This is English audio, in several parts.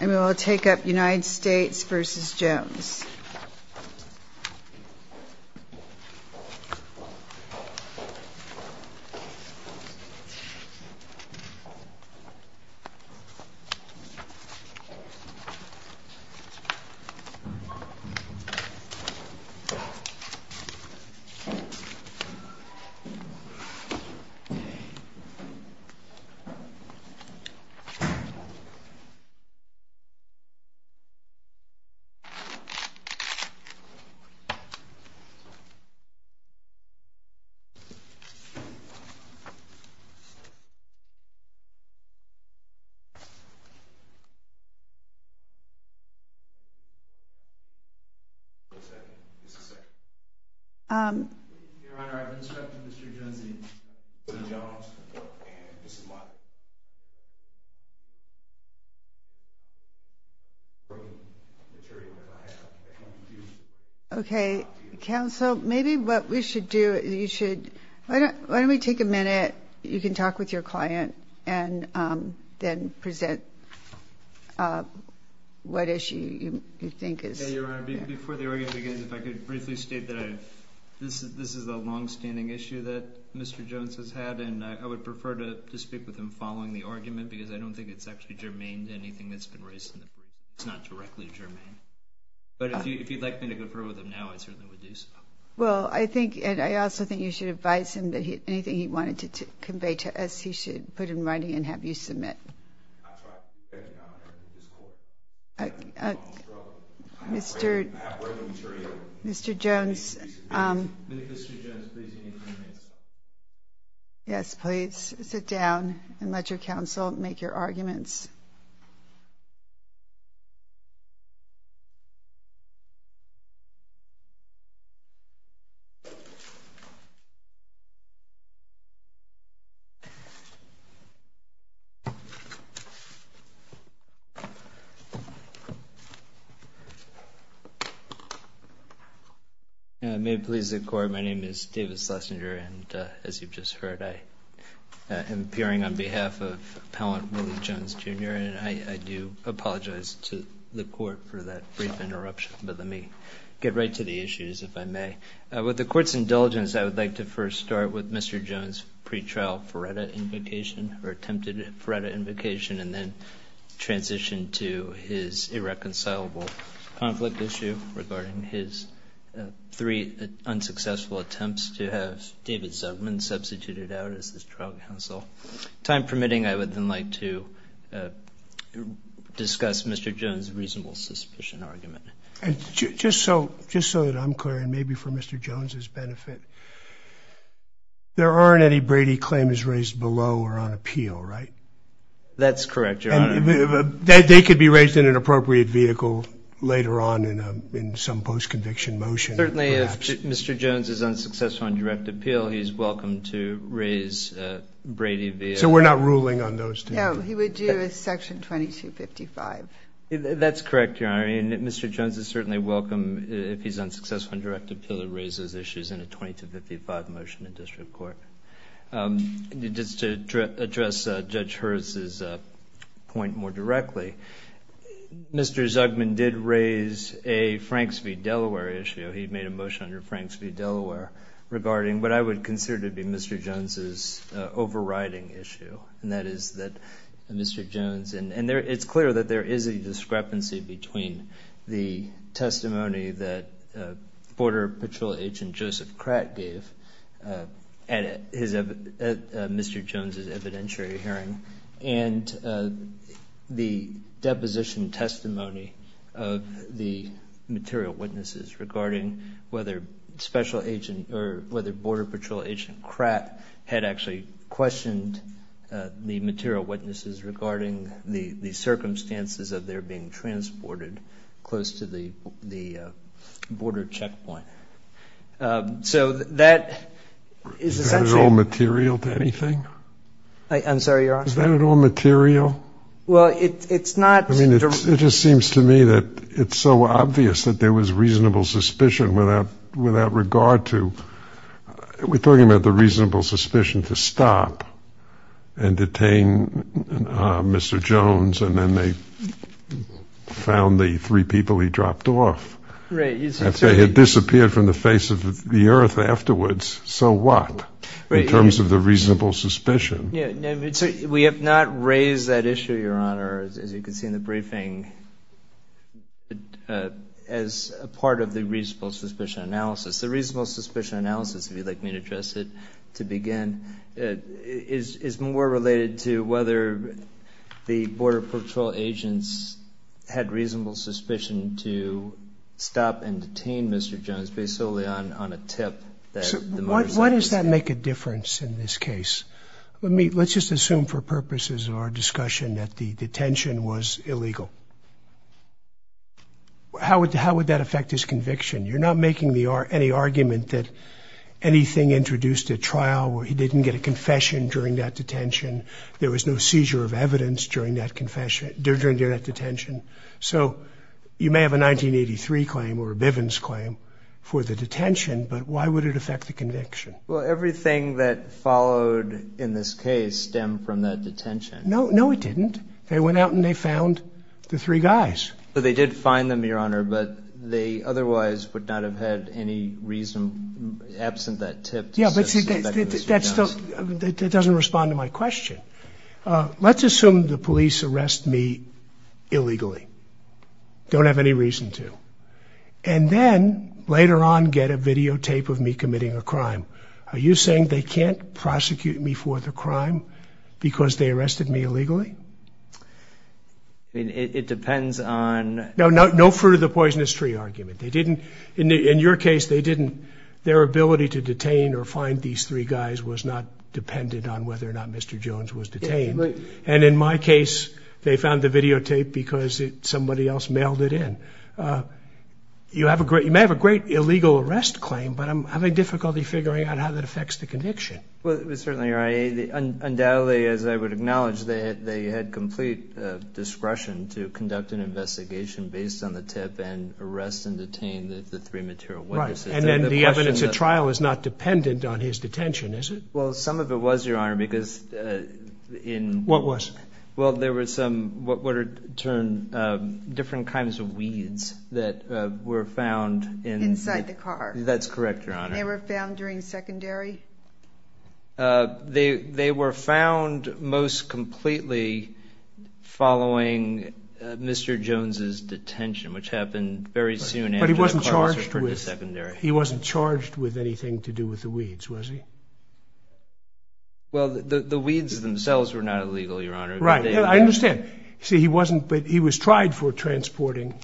And we will take up United States v. Jones. Your Honor, I have instructed Mr. Jones, Mr. Jones, and Mrs. Mott to come to the podium. Okay, counsel, maybe what we should do, you should, why don't we take a minute, you can talk with your client, and then present what issue you think is. Your Honor, before the argument begins, if I could briefly state that this is a longstanding issue that Mr. Jones has had, and I would prefer to speak with him following the argument because I don't think it's actually germane to anything that's been raised, it's not directly germane. But if you'd like me to go through with him now, I certainly would do so. Well, I think, and I also think you should advise him that anything he wanted to convey to us, he should put in writing and have you submit. That's right, Your Honor, it is a long story. I have written material. Mr. Jones. Yes, please sit down and let your counsel make your arguments. My name is David Schlesinger, and as you've just heard, I am appearing on behalf of Appellant Willie Jones, Jr., and I do apologize to the Court for that brief interruption, but let me get right to the issues, if I may. With the Court's indulgence, I would like to first start with Mr. Jones' pretrial Faretta invocation, or attempted Faretta invocation, and then transition to his irreconcilable conflict issue regarding his three unsuccessful attempts to have David Zuckman substituted out as his trial counsel. Time permitting, I would then like to discuss Mr. Jones' reasonable suspicion argument. Just so that I'm clear, and maybe for Mr. Jones' benefit, there aren't any Brady claims raised below or on appeal, right? That's correct, Your Honor. They could be raised in an appropriate vehicle later on in some post-conviction motion. Certainly, if Mr. Jones is unsuccessful on direct appeal, he's welcome to raise Brady via... So we're not ruling on those two? No, he would do a section 2255. That's correct, Your Honor, and Mr. Jones is certainly welcome, if he's unsuccessful on direct appeal, to raise those issues in a 2255 motion in district court. Just to address Judge Herz's point more directly, Mr. Zuckman did raise a Franks v. Delaware issue. He made a motion under Franks v. Delaware regarding what I would consider to be Mr. Jones' overriding issue, and that is that Mr. Jones... And it's clear that there is a discrepancy between the testimony that Border Patrol agent Joseph Kratt gave at Mr. Jones' evidentiary hearing and the deposition testimony of the material witnesses regarding whether Border Patrol agent Kratt had actually questioned the material witnesses regarding the circumstances of their being transported close to the border checkpoint. So that is essentially... Is that at all material to anything? I'm sorry, Your Honor? Is that at all material? Well, it's not... I mean, it just seems to me that it's so obvious that there was reasonable suspicion without regard to... We're talking about the reasonable suspicion to stop and detain Mr. Jones, and then they found the three people he dropped off. If they had disappeared from the face of the earth afterwards, so what, in terms of the reasonable suspicion? We have not raised that issue, Your Honor, as you can see in the briefing, as part of the reasonable suspicion analysis. The reasonable suspicion analysis, if you'd like me to address it to begin, is more related to whether the Border Patrol agents had reasonable suspicion to stop and detain Mr. Jones based solely on a tip that... Why does that make a difference in this case? Let's just assume for purposes of our discussion that the detention was illegal. How would that affect his conviction? You're not making any argument that anything introduced at trial where he didn't get a There was no seizure of evidence during that detention. So you may have a 1983 claim or a Bivens claim for the detention, but why would it affect the conviction? Well, everything that followed in this case stemmed from that detention. No, it didn't. They went out and they found the three guys. They did find them, Your Honor, but they otherwise would not have had any reason absent that tip... Let's assume the police arrest me illegally. Don't have any reason to. And then, later on, get a videotape of me committing a crime. Are you saying they can't prosecute me for the crime because they arrested me illegally? I mean, it depends on... No fruit of the poisonous tree argument. They didn't... In your case, they didn't... was not dependent on whether or not Mr. Jones was detained. And, in my case, they found the videotape because somebody else mailed it in. You may have a great illegal arrest claim, but I'm having difficulty figuring out how that affects the conviction. Well, it was certainly... Undoubtedly, as I would acknowledge, they had complete discretion to conduct an investigation based on the tip and arrest and detain the three material witnesses. And then the evidence at trial is not dependent on his detention, is it? Well, some of it was, Your Honor, because in... What was? Well, there were some... what are... different kinds of weeds that were found in... Inside the car. That's correct, Your Honor. They were found during secondary? They were found most completely following Mr. Jones' detention, which happened very soon after the car was returned to secondary. He wasn't charged with anything to do with the weeds, was he? Well, the weeds themselves were not illegal, Your Honor. Right. I understand. See, he wasn't... but he was tried for transporting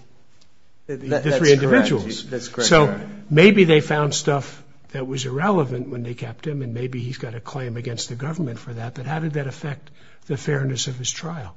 the three individuals. That's correct. So, maybe they found stuff that was irrelevant when they kept him, and maybe he's got a claim against the government for that. But how did that affect the fairness of his trial?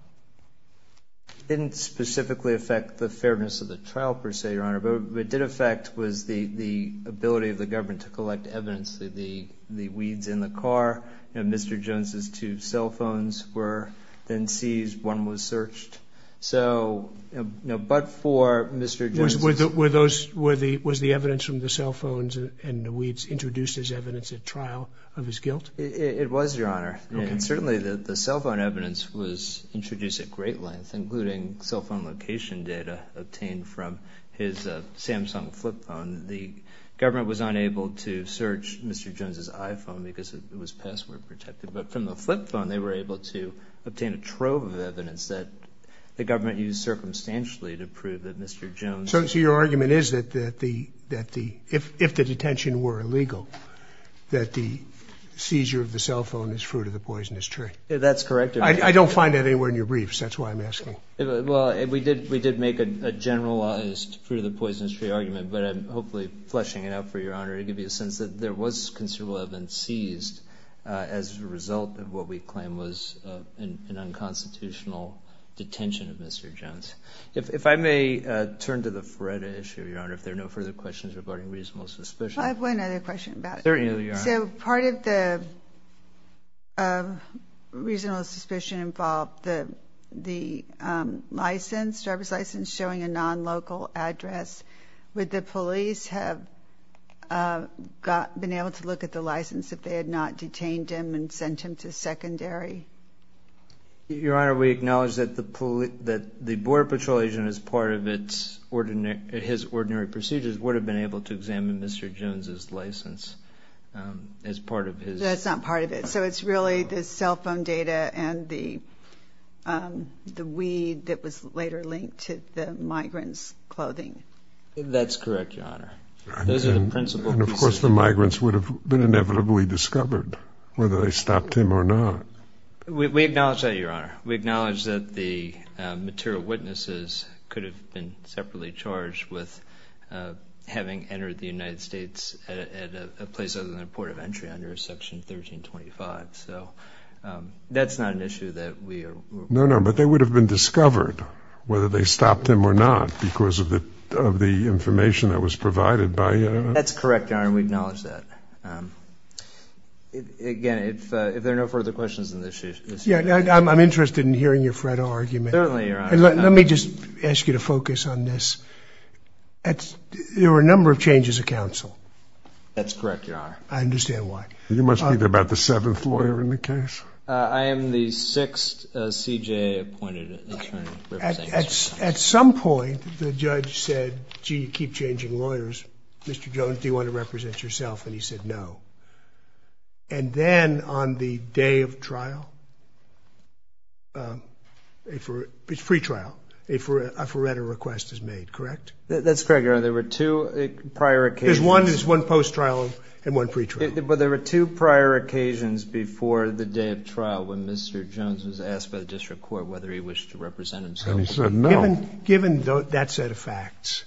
It didn't specifically affect the fairness of the trial, per se, Your Honor. What it did affect was the ability of the government to collect evidence of the weeds in the car. Mr. Jones' two cell phones were then seized. One was searched. So, but for Mr. Jones... Were those... was the evidence from the cell phones and the weeds introduced as evidence at trial of his guilt? It was, Your Honor. Okay. Secondly, the cell phone evidence was introduced at great length, including cell phone location data obtained from his Samsung flip phone. The government was unable to search Mr. Jones' iPhone because it was password protected. But from the flip phone, they were able to obtain a trove of evidence that the government used circumstantially to prove that Mr. Jones... I don't find that anywhere in your briefs. That's why I'm asking. Well, we did make a generalized Fruit of the Poisonous Tree argument, but I'm hopefully fleshing it out for Your Honor to give you a sense that there was considerable evidence seized as a result of what we claim was an unconstitutional detention of Mr. Jones. If I may turn to the Feretta issue, Your Honor, if there are no further questions regarding reasonable suspicion. I have one other question about it. Certainly, Your Honor. So, part of the reasonable suspicion involved the license, driver's license showing a non-local address. Would the police have been able to look at the license if they had not detained him and sent him to secondary? Your Honor, we acknowledge that the Border Patrol agent, as part of his ordinary procedures, would have been able to examine Mr. Jones' license. That's not part of it. So, it's really the cell phone data and the weed that was later linked to the migrant's clothing. That's correct, Your Honor. Those are the principal... And, of course, the migrants would have been inevitably discovered, whether they stopped him or not. We acknowledge that, Your Honor. We acknowledge that the material witnesses could have been separately charged with having entered the United States at a place other than a port of entry under Section 1325. So, that's not an issue that we... No, no, but they would have been discovered, whether they stopped him or not, because of the information that was provided by... That's correct, Your Honor. We acknowledge that. Again, if there are no further questions on this issue... I'm interested in hearing your Fred argument. Certainly, Your Honor. Let me just ask you to focus on this. There were a number of changes of counsel. That's correct, Your Honor. I understand why. You must be about the seventh lawyer in the case. I am the sixth CJA appointed attorney representing... At some point, the judge said, gee, you keep changing lawyers. Mr. Jones, do you want to represent yourself? And, he said no. And then, on the day of trial... It's pre-trial. A forerunner request is made, correct? That's correct, Your Honor. There were two prior occasions. There's one post-trial and one pre-trial. But, there were two prior occasions before the day of trial when Mr. Jones was asked by the district court whether he wished to represent himself. And, he said no. Given that set of facts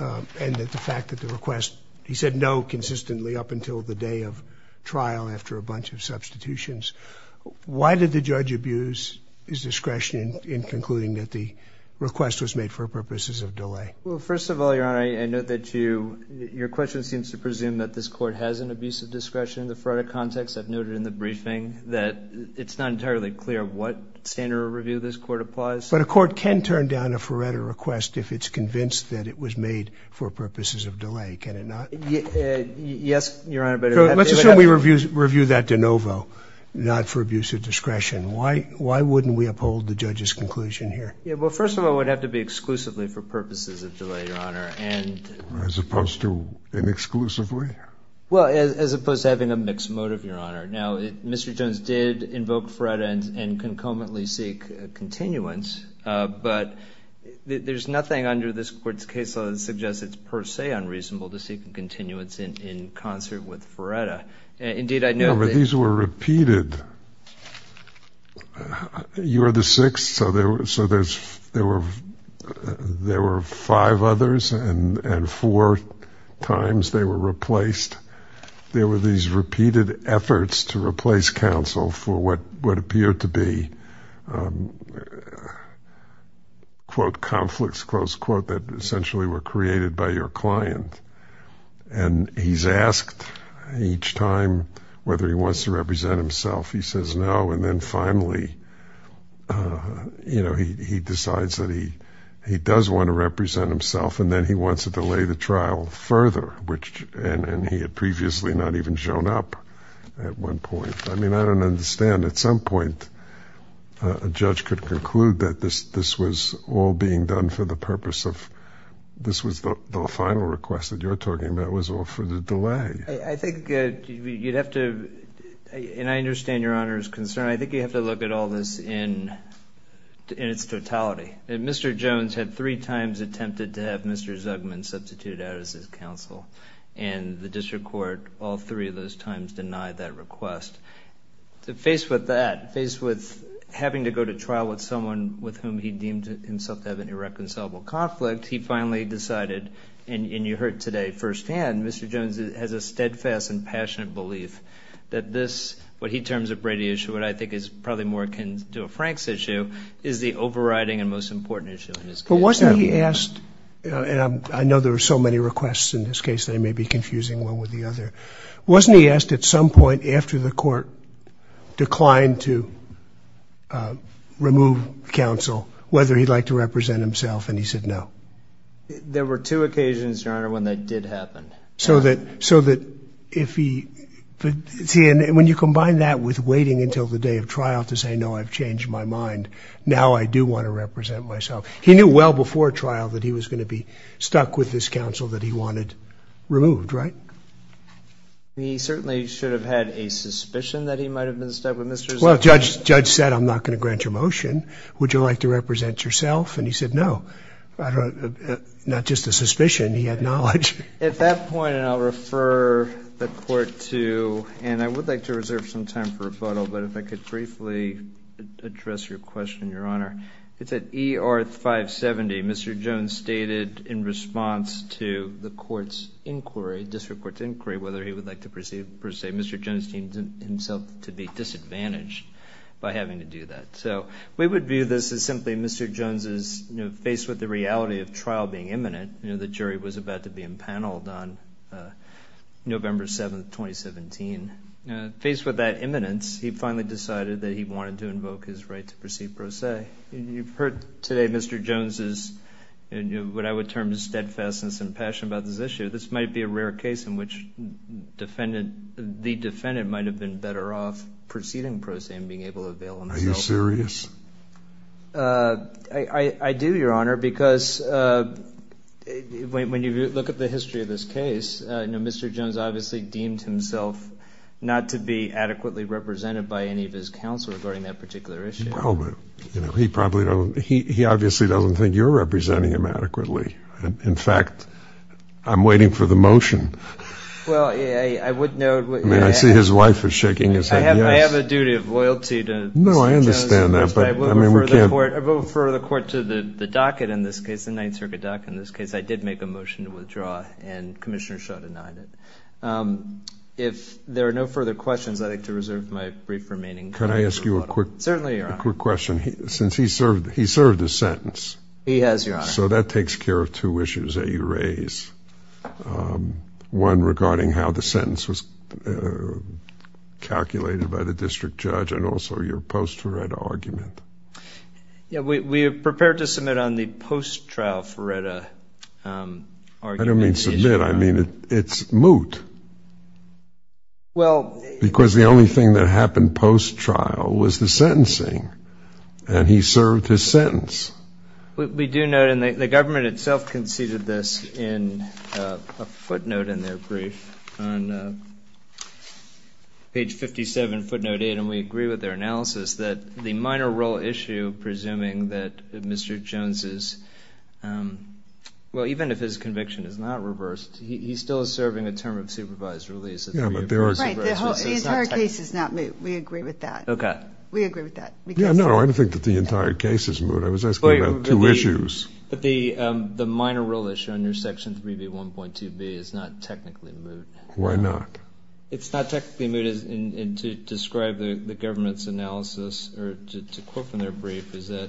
and the fact that the request... He said no consistently up until the day of trial after a bunch of substitutions. Why did the judge abuse his discretion in concluding that the request was made for purposes of delay? Well, first of all, Your Honor, I note that you... Your question seems to presume that this court has an abuse of discretion in the forerunner context. I've noted in the briefing that it's not entirely clear what standard of review this court applies to. But, a court can turn down a forerunner request if it's convinced that it was made for purposes of delay. Can it not? Yes, Your Honor, but... Let's assume we review that de novo, not for abuse of discretion. Why wouldn't we uphold the judge's conclusion here? Well, first of all, it would have to be exclusively for purposes of delay, Your Honor. As opposed to inexclusively? Well, as opposed to having a mixed motive, Your Honor. Now, Mr. Jones did invoke FRERETA and concomitantly seek continuance, but there's nothing under this court's case law that suggests it's per se unreasonable to seek continuance in concert with FRERETA. Indeed, I note that... No, but these were repeated. You're the sixth, so there were five others, and four times they were replaced. There were these repeated efforts to replace counsel for what would appear to be, quote, conflicts, close quote, that essentially were created by your client. And he's asked each time whether he wants to represent himself. He says no, and then finally, you know, he decides that he does want to represent himself, and then he wants to delay the trial further, which... and he had previously not even shown up at one point. I mean, I don't understand. At some point, a judge could conclude that this was all being done for the purpose of... this was the final request that you're talking about was all for the delay. I think you'd have to... and I understand Your Honor's concern. I think you have to look at all this in its totality. Mr. Jones had three times attempted to have Mr. Zugman substituted out as his counsel, and the district court all three of those times denied that request. Faced with that, faced with having to go to trial with someone with whom he deemed himself to have an irreconcilable conflict, he finally decided, and you heard today firsthand, Mr. Jones has a steadfast and passionate belief that this, what he terms a Brady issue, what I think is probably more akin to a Franks issue, is the overriding and most important issue in this case. But wasn't he asked, and I know there are so many requests in this case that it may be confusing one with the other. Wasn't he asked at some point after the court declined to remove counsel whether he'd like to represent himself, and he said no? There were two occasions, Your Honor, when that did happen. So that if he, see, and when you combine that with waiting until the day of trial to say, no, I've changed my mind, now I do want to represent myself. He knew well before trial that he was going to be stuck with this counsel that he wanted removed, right? He certainly should have had a suspicion that he might have been stuck with Mr. Zugman. Well, the judge said, I'm not going to grant your motion. Would you like to represent yourself? And he said no. Not just a suspicion, he had knowledge. At that point, and I'll refer the court to, and I would like to reserve some time for rebuttal, but if I could briefly address your question, Your Honor. It's at ER 570, Mr. Jones stated in response to the court's inquiry, district court's inquiry, whether he would like to perceive, per se, Mr. Jones deemed himself to be disadvantaged by having to do that. So we would view this as simply Mr. Jones's, you know, faced with the reality of trial being imminent, you know, the jury was about to be impaneled on November 7th, 2017. Faced with that imminence, he finally decided that he wanted to invoke his right to proceed pro se. You've heard today Mr. Jones's, you know, what I would term his steadfastness and passion about this issue. This might be a rare case in which the defendant might have been better off proceeding pro se than being able to bail himself. Are you serious? I do, Your Honor, because when you look at the history of this case, you know, Mr. Jones obviously deemed himself not to be adequately represented by any of his counsel regarding that particular issue. Well, but, you know, he probably don't, he obviously doesn't think you're representing him adequately. In fact, I'm waiting for the motion. Well, I would note. I mean, I see his wife is shaking his head yes. I have a duty of loyalty to Mr. Jones. No, I understand that. But I will refer the court to the docket in this case, the Ninth Circuit docket in this case. I did make a motion to withdraw and Commissioner Shaw denied it. If there are no further questions, I'd like to reserve my brief remaining time. Can I ask you a quick question? Certainly, Your Honor. Since he served his sentence. He has, Your Honor. So that takes care of two issues that you raise. One regarding how the sentence was calculated by the district judge and also your post-Ferretta argument. Yeah, we are prepared to submit on the post-trial Ferretta argument. I don't mean submit. I mean it's moot. Well. Because the only thing that happened post-trial was the sentencing, and he served his sentence. We do note, and the government itself conceded this in a footnote in their brief on page 57, footnote 8, and we agree with their analysis that the minor role issue presuming that Mr. Jones is, well, even if his conviction is not reversed, he still is serving a term of supervised release. Yeah, but there are. Right, the entire case is not moot. We agree with that. Okay. We agree with that. Yeah, no, I don't think that the entire case is moot. I was asking about two issues. But the minor role issue under Section 3B1.2b is not technically moot. Why not? It's not technically moot, and to describe the government's analysis, or to quote from their brief, is that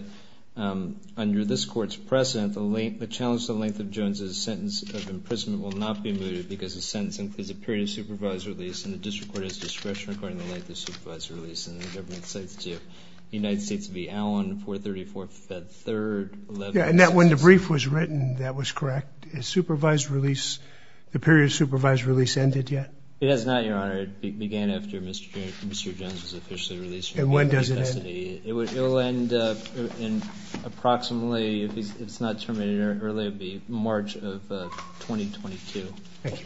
under this court's precedent, the challenge to the length of Jones' sentence of imprisonment will not be mooted because the sentence includes a period of supervised release, and the district court has discretion according to the length of supervised release, and the government cites the United States v. Allen, 4-34-3-11. Yeah, and when the brief was written, that was correct. Is supervised release, the period of supervised release ended yet? It is not, Your Honor. It began after Mr. Jones was officially released from the custody. And when does it end? It will end in approximately, if it's not terminated early, it will be March of 2022. Thank you.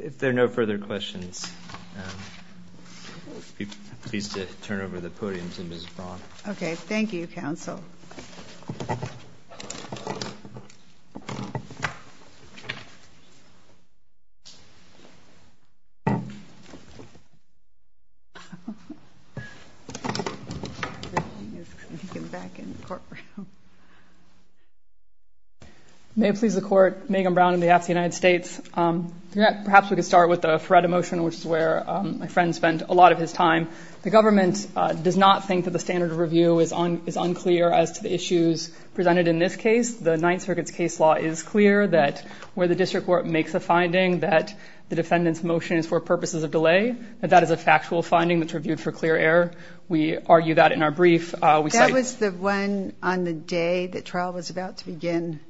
If there are no further questions, I'd be pleased to turn over the podium to Ms. Braun. Okay. Thank you, counsel. May it please the Court, Megan Braun on behalf of the United States. Perhaps we could start with the Feretta motion, which is where my friend spent a lot of his time. The government does not think that the standard of review is unclear as to the issues presented in this case. The Ninth Circuit's case law is clear that where the district court makes a finding that the defendant's motion is for purposes of delay, that that is a factual finding that's reviewed for clear error. We argue that in our brief. That was the one on the day the trial was about to begin.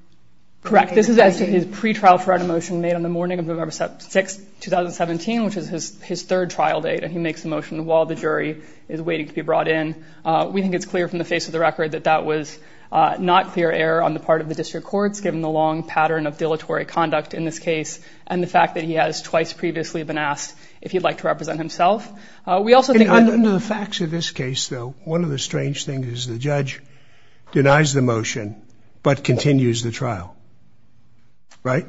Correct. This is as to his pretrial Feretta motion made on the morning of November 6, 2017, which is his third trial date, and he makes a motion while the jury is waiting to be brought in. We think it's clear from the face of the record that that was not clear error on the part of the district courts, given the long pattern of dilatory conduct in this case and the fact that he has twice previously been asked if he'd like to represent himself. We also think under the facts of this case, though, one of the strange things is the judge denies the motion but continues the trial. Right.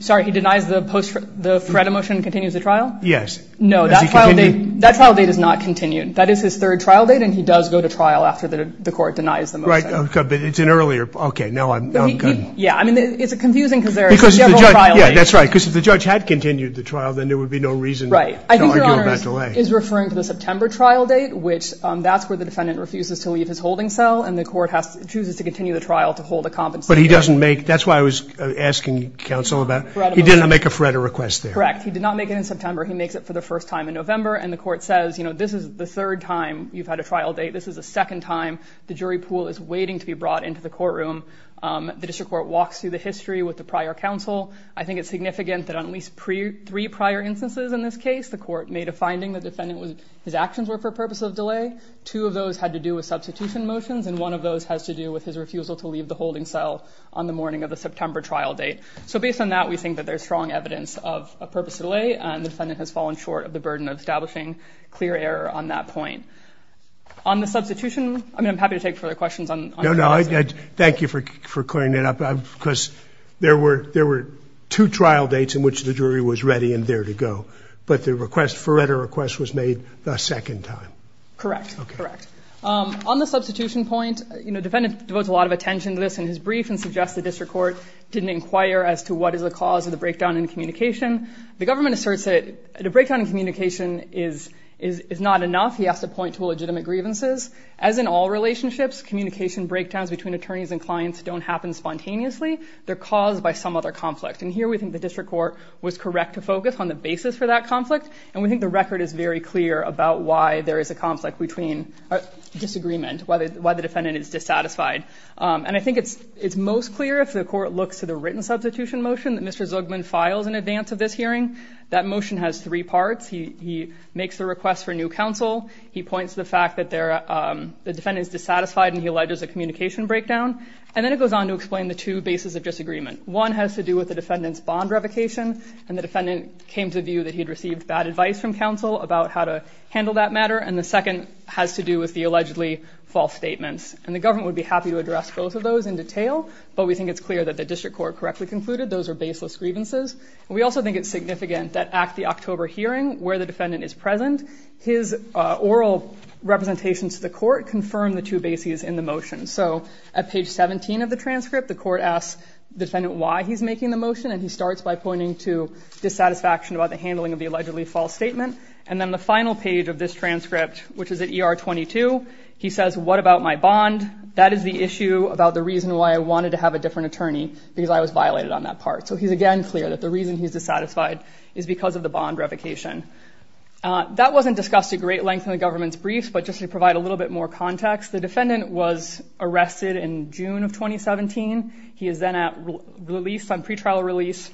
Sorry. He denies the Feretta motion and continues the trial? Yes. No, that trial date is not continued. That is his third trial date, and he does go to trial after the court denies the motion. Right. It's an earlier. Okay. No, I'm good. Yeah. I mean, it's confusing because there are several trial dates. Yeah, that's right, because if the judge had continued the trial, then there would be no reason to argue about delay. Right. I think Your Honor is referring to the September trial date, which that's where the defendant refuses to leave his holding cell, and the court chooses to continue the trial to hold a compensation. But he doesn't make – that's why I was asking counsel about – he didn't make a Feretta request there. Correct. He did not make it in September. He makes it for the first time in November, and the court says, you know, this is the third time you've had a trial date. This is the second time the jury pool is waiting to be brought into the courtroom. The district court walks through the history with the prior counsel. I think it's significant that on at least three prior instances in this case, the court made a finding the defendant was – his actions were for the purpose of delay. Two of those had to do with substitution motions, and one of those has to do with his refusal to leave the holding cell on the morning of the September trial date. So based on that, we think that there's strong evidence of a purposeful delay, and the defendant has fallen short of the burden of establishing clear error on that point. On the substitution, I mean, I'm happy to take further questions on – No, no. Thank you for clearing that up, because there were – there were two trial dates in which the jury was ready and there to go, but the request – Feretta request was made the second time. Correct, correct. On the substitution point, you know, the defendant devotes a lot of attention to this in his brief and suggests the district court didn't inquire as to what is the cause of the breakdown in communication. The government asserts that the breakdown in communication is not enough. He has to point to legitimate grievances. As in all relationships, communication breakdowns between attorneys and clients don't happen spontaneously. They're caused by some other conflict, and here we think the district court was correct to focus on the basis for that conflict, and we think the record is very clear about why there is a conflict between – disagreement, why the defendant is dissatisfied, and I think it's most clear if the court looks to the written substitution motion that Mr. Zugman files in advance of this hearing. That motion has three parts. He makes the request for new counsel. He points to the fact that the defendant is dissatisfied and he alleges a communication breakdown, and then it goes on to explain the two bases of disagreement. One has to do with the defendant's bond revocation, and the defendant came to view that he had received bad advice from counsel about how to handle that matter, and the second has to do with the allegedly false statements, and the government would be happy to address both of those in detail, but we think it's clear that the district court correctly concluded those are baseless grievances. We also think it's significant that at the October hearing where the defendant is present, his oral representations to the court confirm the two bases in the motion. So at page 17 of the transcript, the court asks the defendant why he's making the motion, and he starts by pointing to dissatisfaction about the handling of the allegedly false statement, and then the final page of this transcript, which is at ER 22, he says, what about my bond? That is the issue about the reason why I wanted to have a different attorney because I was violated on that part. So he's again clear that the reason he's dissatisfied is because of the bond revocation. That wasn't discussed at great length in the government's brief, but just to provide a little bit more context, the defendant was arrested in June of 2017. He is then released on pretrial release.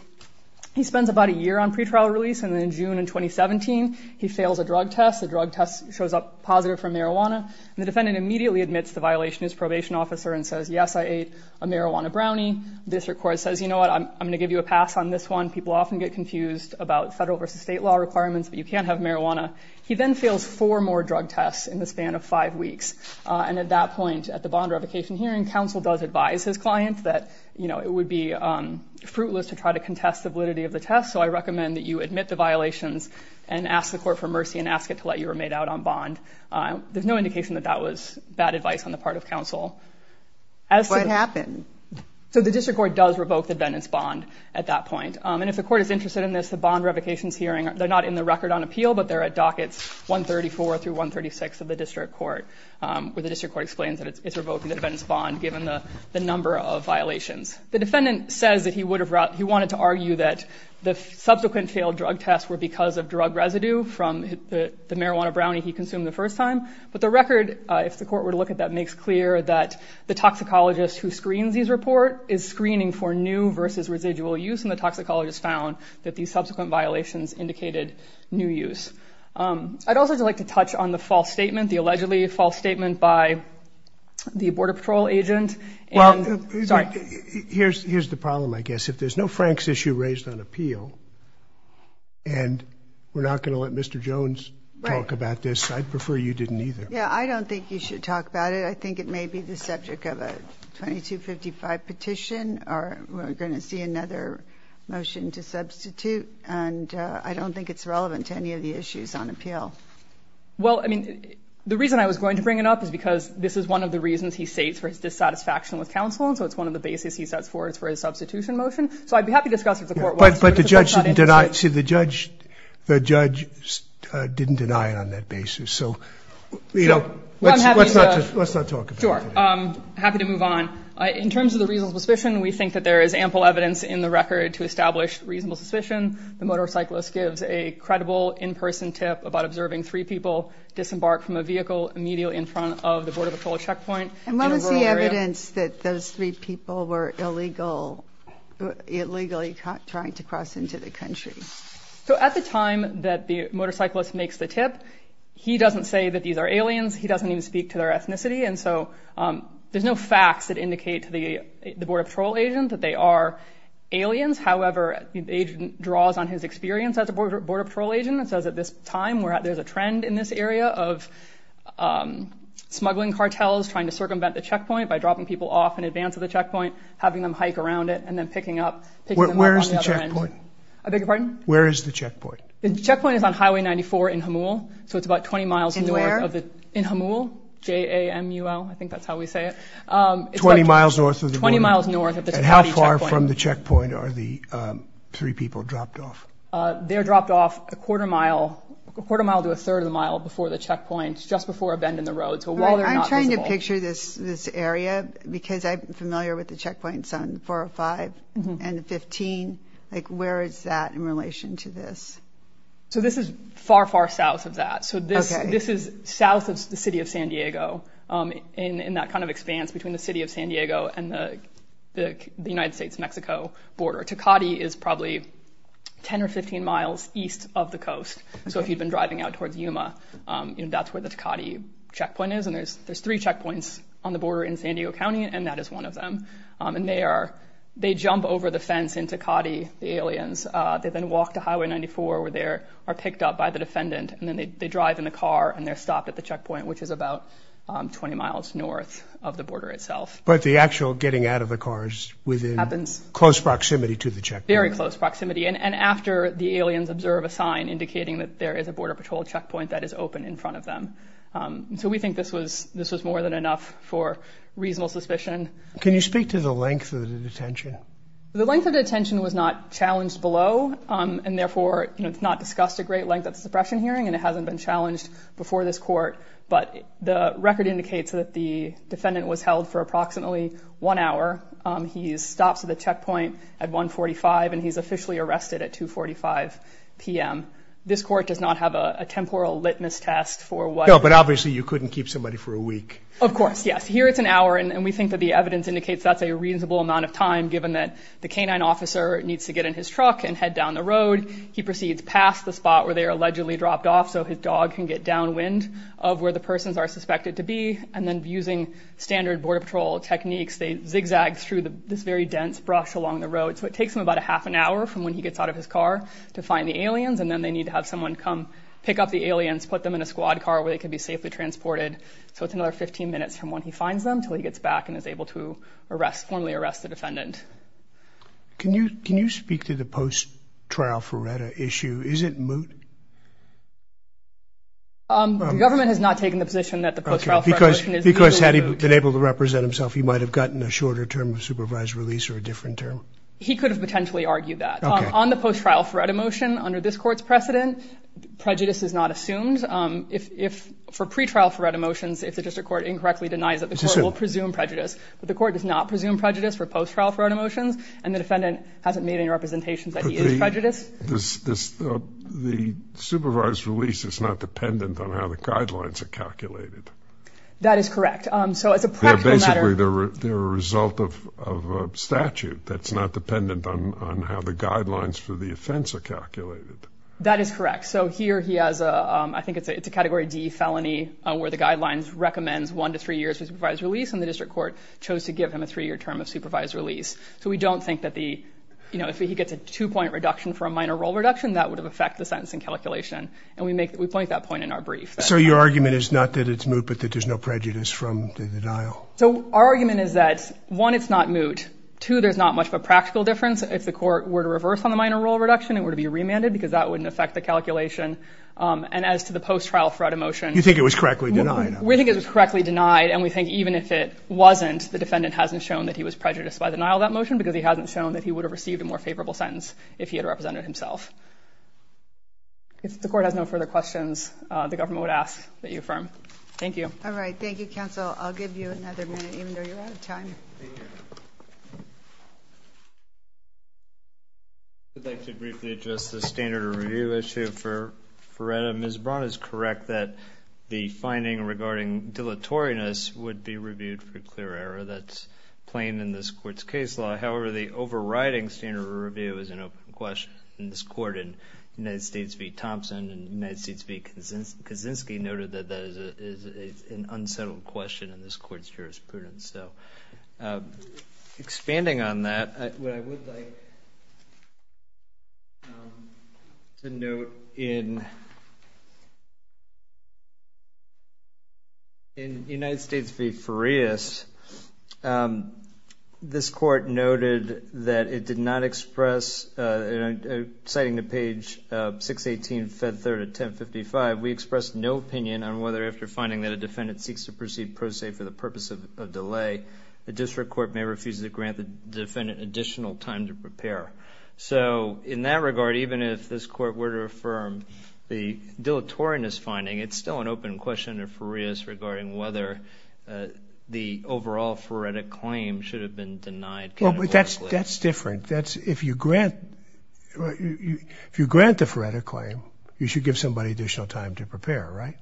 He spends about a year on pretrial release, and then in June of 2017, he fails a drug test. The drug test shows up positive for marijuana, and the defendant immediately admits the violation as probation officer and says, yes, I ate a marijuana brownie. The district court says, you know what, I'm going to give you a pass on this one. People often get confused about federal versus state law requirements, but you can't have marijuana. He then fails four more drug tests in the span of five weeks, and at that point, at the bond revocation hearing, counsel does advise his client that, you know, it would be fruitless to try to contest the validity of the test, so I recommend that you admit the violations and ask the court for mercy and ask it to let you remain out on bond. There's no indication that that was bad advice on the part of counsel. What happened? So the district court does revoke the defendant's bond at that point, and if the court is interested in this, the bond revocation hearing, they're not in the record on appeal, but they're at dockets 134 through 136 of the district court, where the district court explains that it's revoking the defendant's bond given the number of violations. The defendant says that he wanted to argue that the subsequent failed drug tests were because of drug residue from the marijuana brownie he consumed the first time, but the record, if the court were to look at that, makes clear that the toxicologist who screens these reports is screening for new versus residual use, and the toxicologist found that these subsequent violations indicated new use. I'd also like to touch on the false statement, the allegedly false statement by the Border Patrol agent. Well, here's the problem, I guess. If there's no Frank's issue raised on appeal and we're not going to let Mr. Jones talk about this, I'd prefer you didn't either. Yeah, I don't think you should talk about it. I think it may be the subject of a 2255 petition, or we're going to see another motion to substitute, and I don't think it's relevant to any of the issues on appeal. Well, I mean, the reason I was going to bring it up is because this is one of the reasons he states for his dissatisfaction with counsel, and so it's one of the basis he sets for his substitution motion. So I'd be happy to discuss it with the court. But the judge didn't deny it. See, the judge didn't deny it on that basis. So, you know, let's not talk about it. I'm happy to move on. In terms of the reasonable suspicion, we think that there is ample evidence in the record to establish reasonable suspicion. The motorcyclist gives a credible in-person tip about observing three people disembark from a vehicle immediately in front of the Border Patrol checkpoint. And what was the evidence that those three people were illegally trying to cross into the country? So at the time that the motorcyclist makes the tip, he doesn't say that these are aliens. He doesn't even speak to their ethnicity. And so there's no facts that indicate to the Border Patrol agent that they are aliens. However, the agent draws on his experience as a Border Patrol agent and says at this time, there's a trend in this area of smuggling cartels trying to circumvent the checkpoint by dropping people off in advance of the checkpoint, having them hike around it, and then picking them up on the other end. Where is the checkpoint? I beg your pardon? Where is the checkpoint? The checkpoint is on Highway 94 in Hamul. So it's about 20 miles north. In where? In Hamul. J-A-M-U-L. I think that's how we say it. Twenty miles north of the border. Twenty miles north of the checkpoint. And how far from the checkpoint are the three people dropped off? They're dropped off a quarter mile to a third of the mile before the checkpoint, just before a bend in the road. So while they're not visible. Can you picture this area? Because I'm familiar with the checkpoints on 405 and 15. Like, where is that in relation to this? So this is far, far south of that. So this is south of the city of San Diego in that kind of expanse between the city of San Diego and the United States-Mexico border. Tecate is probably 10 or 15 miles east of the coast. So if you've been driving out towards Yuma, that's where the Tecate checkpoint is. And there's three checkpoints on the border in San Diego County, and that is one of them. And they jump over the fence in Tecate, the aliens. They then walk to Highway 94, where they are picked up by the defendant. And then they drive in the car, and they're stopped at the checkpoint, which is about 20 miles north of the border itself. But the actual getting out of the car is within close proximity to the checkpoint. Very close proximity. And after, the aliens observe a sign indicating that there is a Border Patrol checkpoint that is open in front of them. So we think this was more than enough for reasonable suspicion. Can you speak to the length of the detention? The length of the detention was not challenged below. And therefore, it's not discussed a great length at the suppression hearing, and it hasn't been challenged before this court. But the record indicates that the defendant was held for approximately one hour. He stops at the checkpoint at 145, and he's officially arrested at 245 p.m. This court does not have a temporal litmus test for what. No, but obviously you couldn't keep somebody for a week. Of course, yes. Here it's an hour, and we think that the evidence indicates that's a reasonable amount of time, given that the canine officer needs to get in his truck and head down the road. He proceeds past the spot where they are allegedly dropped off so his dog can get downwind of where the persons are suspected to be. And then using standard Border Patrol techniques, they zigzag through this very dense brush along the road. So it takes him about a half an hour from when he gets out of his car to find the aliens, and then they need to have someone come pick up the aliens, put them in a squad car where they can be safely transported. So it's another 15 minutes from when he finds them until he gets back and is able to arrest, formally arrest the defendant. Can you speak to the post-trial Fureta issue? Is it moot? The government has not taken the position that the post-trial Fureta motion is moot. Because had he been able to represent himself, he might have gotten a shorter term of supervised release or a different term. He could have potentially argued that. On the post-trial Fureta motion, under this court's precedent, prejudice is not assumed. For pre-trial Fureta motions, if the district court incorrectly denies it, the court will presume prejudice. But the court does not presume prejudice for post-trial Fureta motions, and the defendant hasn't made any representations that he is prejudiced. The supervised release is not dependent on how the guidelines are calculated. That is correct. Basically, they're a result of statute that's not dependent on how the guidelines for the offense are calculated. That is correct. So here he has a, I think it's a Category D felony, where the guidelines recommend one to three years of supervised release, and the district court chose to give him a three-year term of supervised release. So we don't think that the, you know, if he gets a two-point reduction for a minor role reduction, that would affect the sentencing calculation. And we make, we point that point in our brief. So your argument is not that it's moot, but that there's no prejudice from the denial? So our argument is that, one, it's not moot. Two, there's not much of a practical difference. If the court were to reverse on the minor role reduction, it would be remanded, because that wouldn't affect the calculation. And as to the post-trial Fureta motion. You think it was correctly denied? We think it was correctly denied, and we think even if it wasn't, the defendant hasn't shown that he was prejudiced by the denial of that motion, because he hasn't shown that he would have received a more favorable sentence if he had represented himself. If the court has no further questions, the government would ask that you affirm. Thank you. All right. Thank you, counsel. I'll give you another minute, even though you're out of time. I'd like to briefly address the standard of review issue for Fureta. Ms. Braun is correct that the finding regarding dilatoriness would be reviewed for clear error. That's plain in this court's case law. However, the overriding standard of review is an open question in this court, and United States v. Thompson and United States v. Kaczynski noted that that is an unsettled question in this court's jurisprudence. Expanding on that, what I would like to note in United States v. Furetas, this court noted that it did not express, citing the page 618, fed 3rd of 1055, we expressed no opinion on whether after finding that a defendant seeks to proceed pro se for the purpose of delay, the district court may refuse to grant the defendant additional time to prepare. So in that regard, even if this court were to affirm the dilatoriness finding, it's still an open question under Furetas regarding whether the overall Fureta claim should have been denied categorically. That's different. If you grant the Fureta claim, you should give somebody additional time to prepare, right?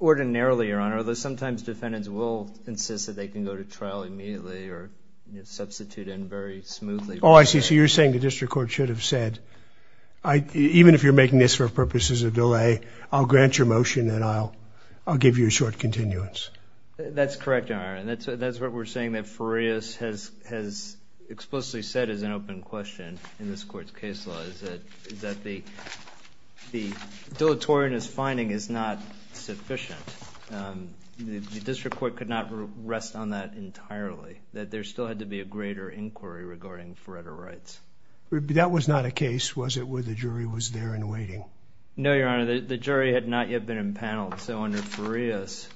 Ordinarily, Your Honor, although sometimes defendants will insist that they can go to trial immediately or substitute in very smoothly. Oh, I see. So you're saying the district court should have said, even if you're making this for purposes of delay, I'll grant your motion and I'll give you a short continuance. That's correct, Your Honor, and that's what we're saying that Furetas has explicitly said is an open question in this court's case law, is that the dilatoriness finding is not sufficient. The district court could not rest on that entirely, that there still had to be a greater inquiry regarding Fureta rights. That was not a case, was it, where the jury was there and waiting? No, Your Honor, the jury had not yet been impaneled. So under Furetas,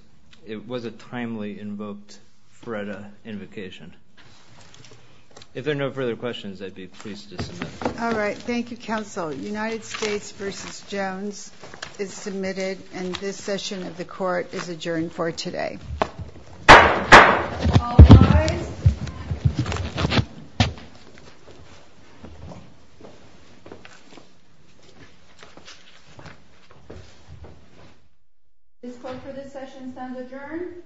it was a timely invoked Fureta invocation. If there are no further questions, I'd be pleased to submit. All right, thank you, counsel. United States v. Jones is submitted, and this session of the court is adjourned for today. All rise. This court for this session stands adjourned.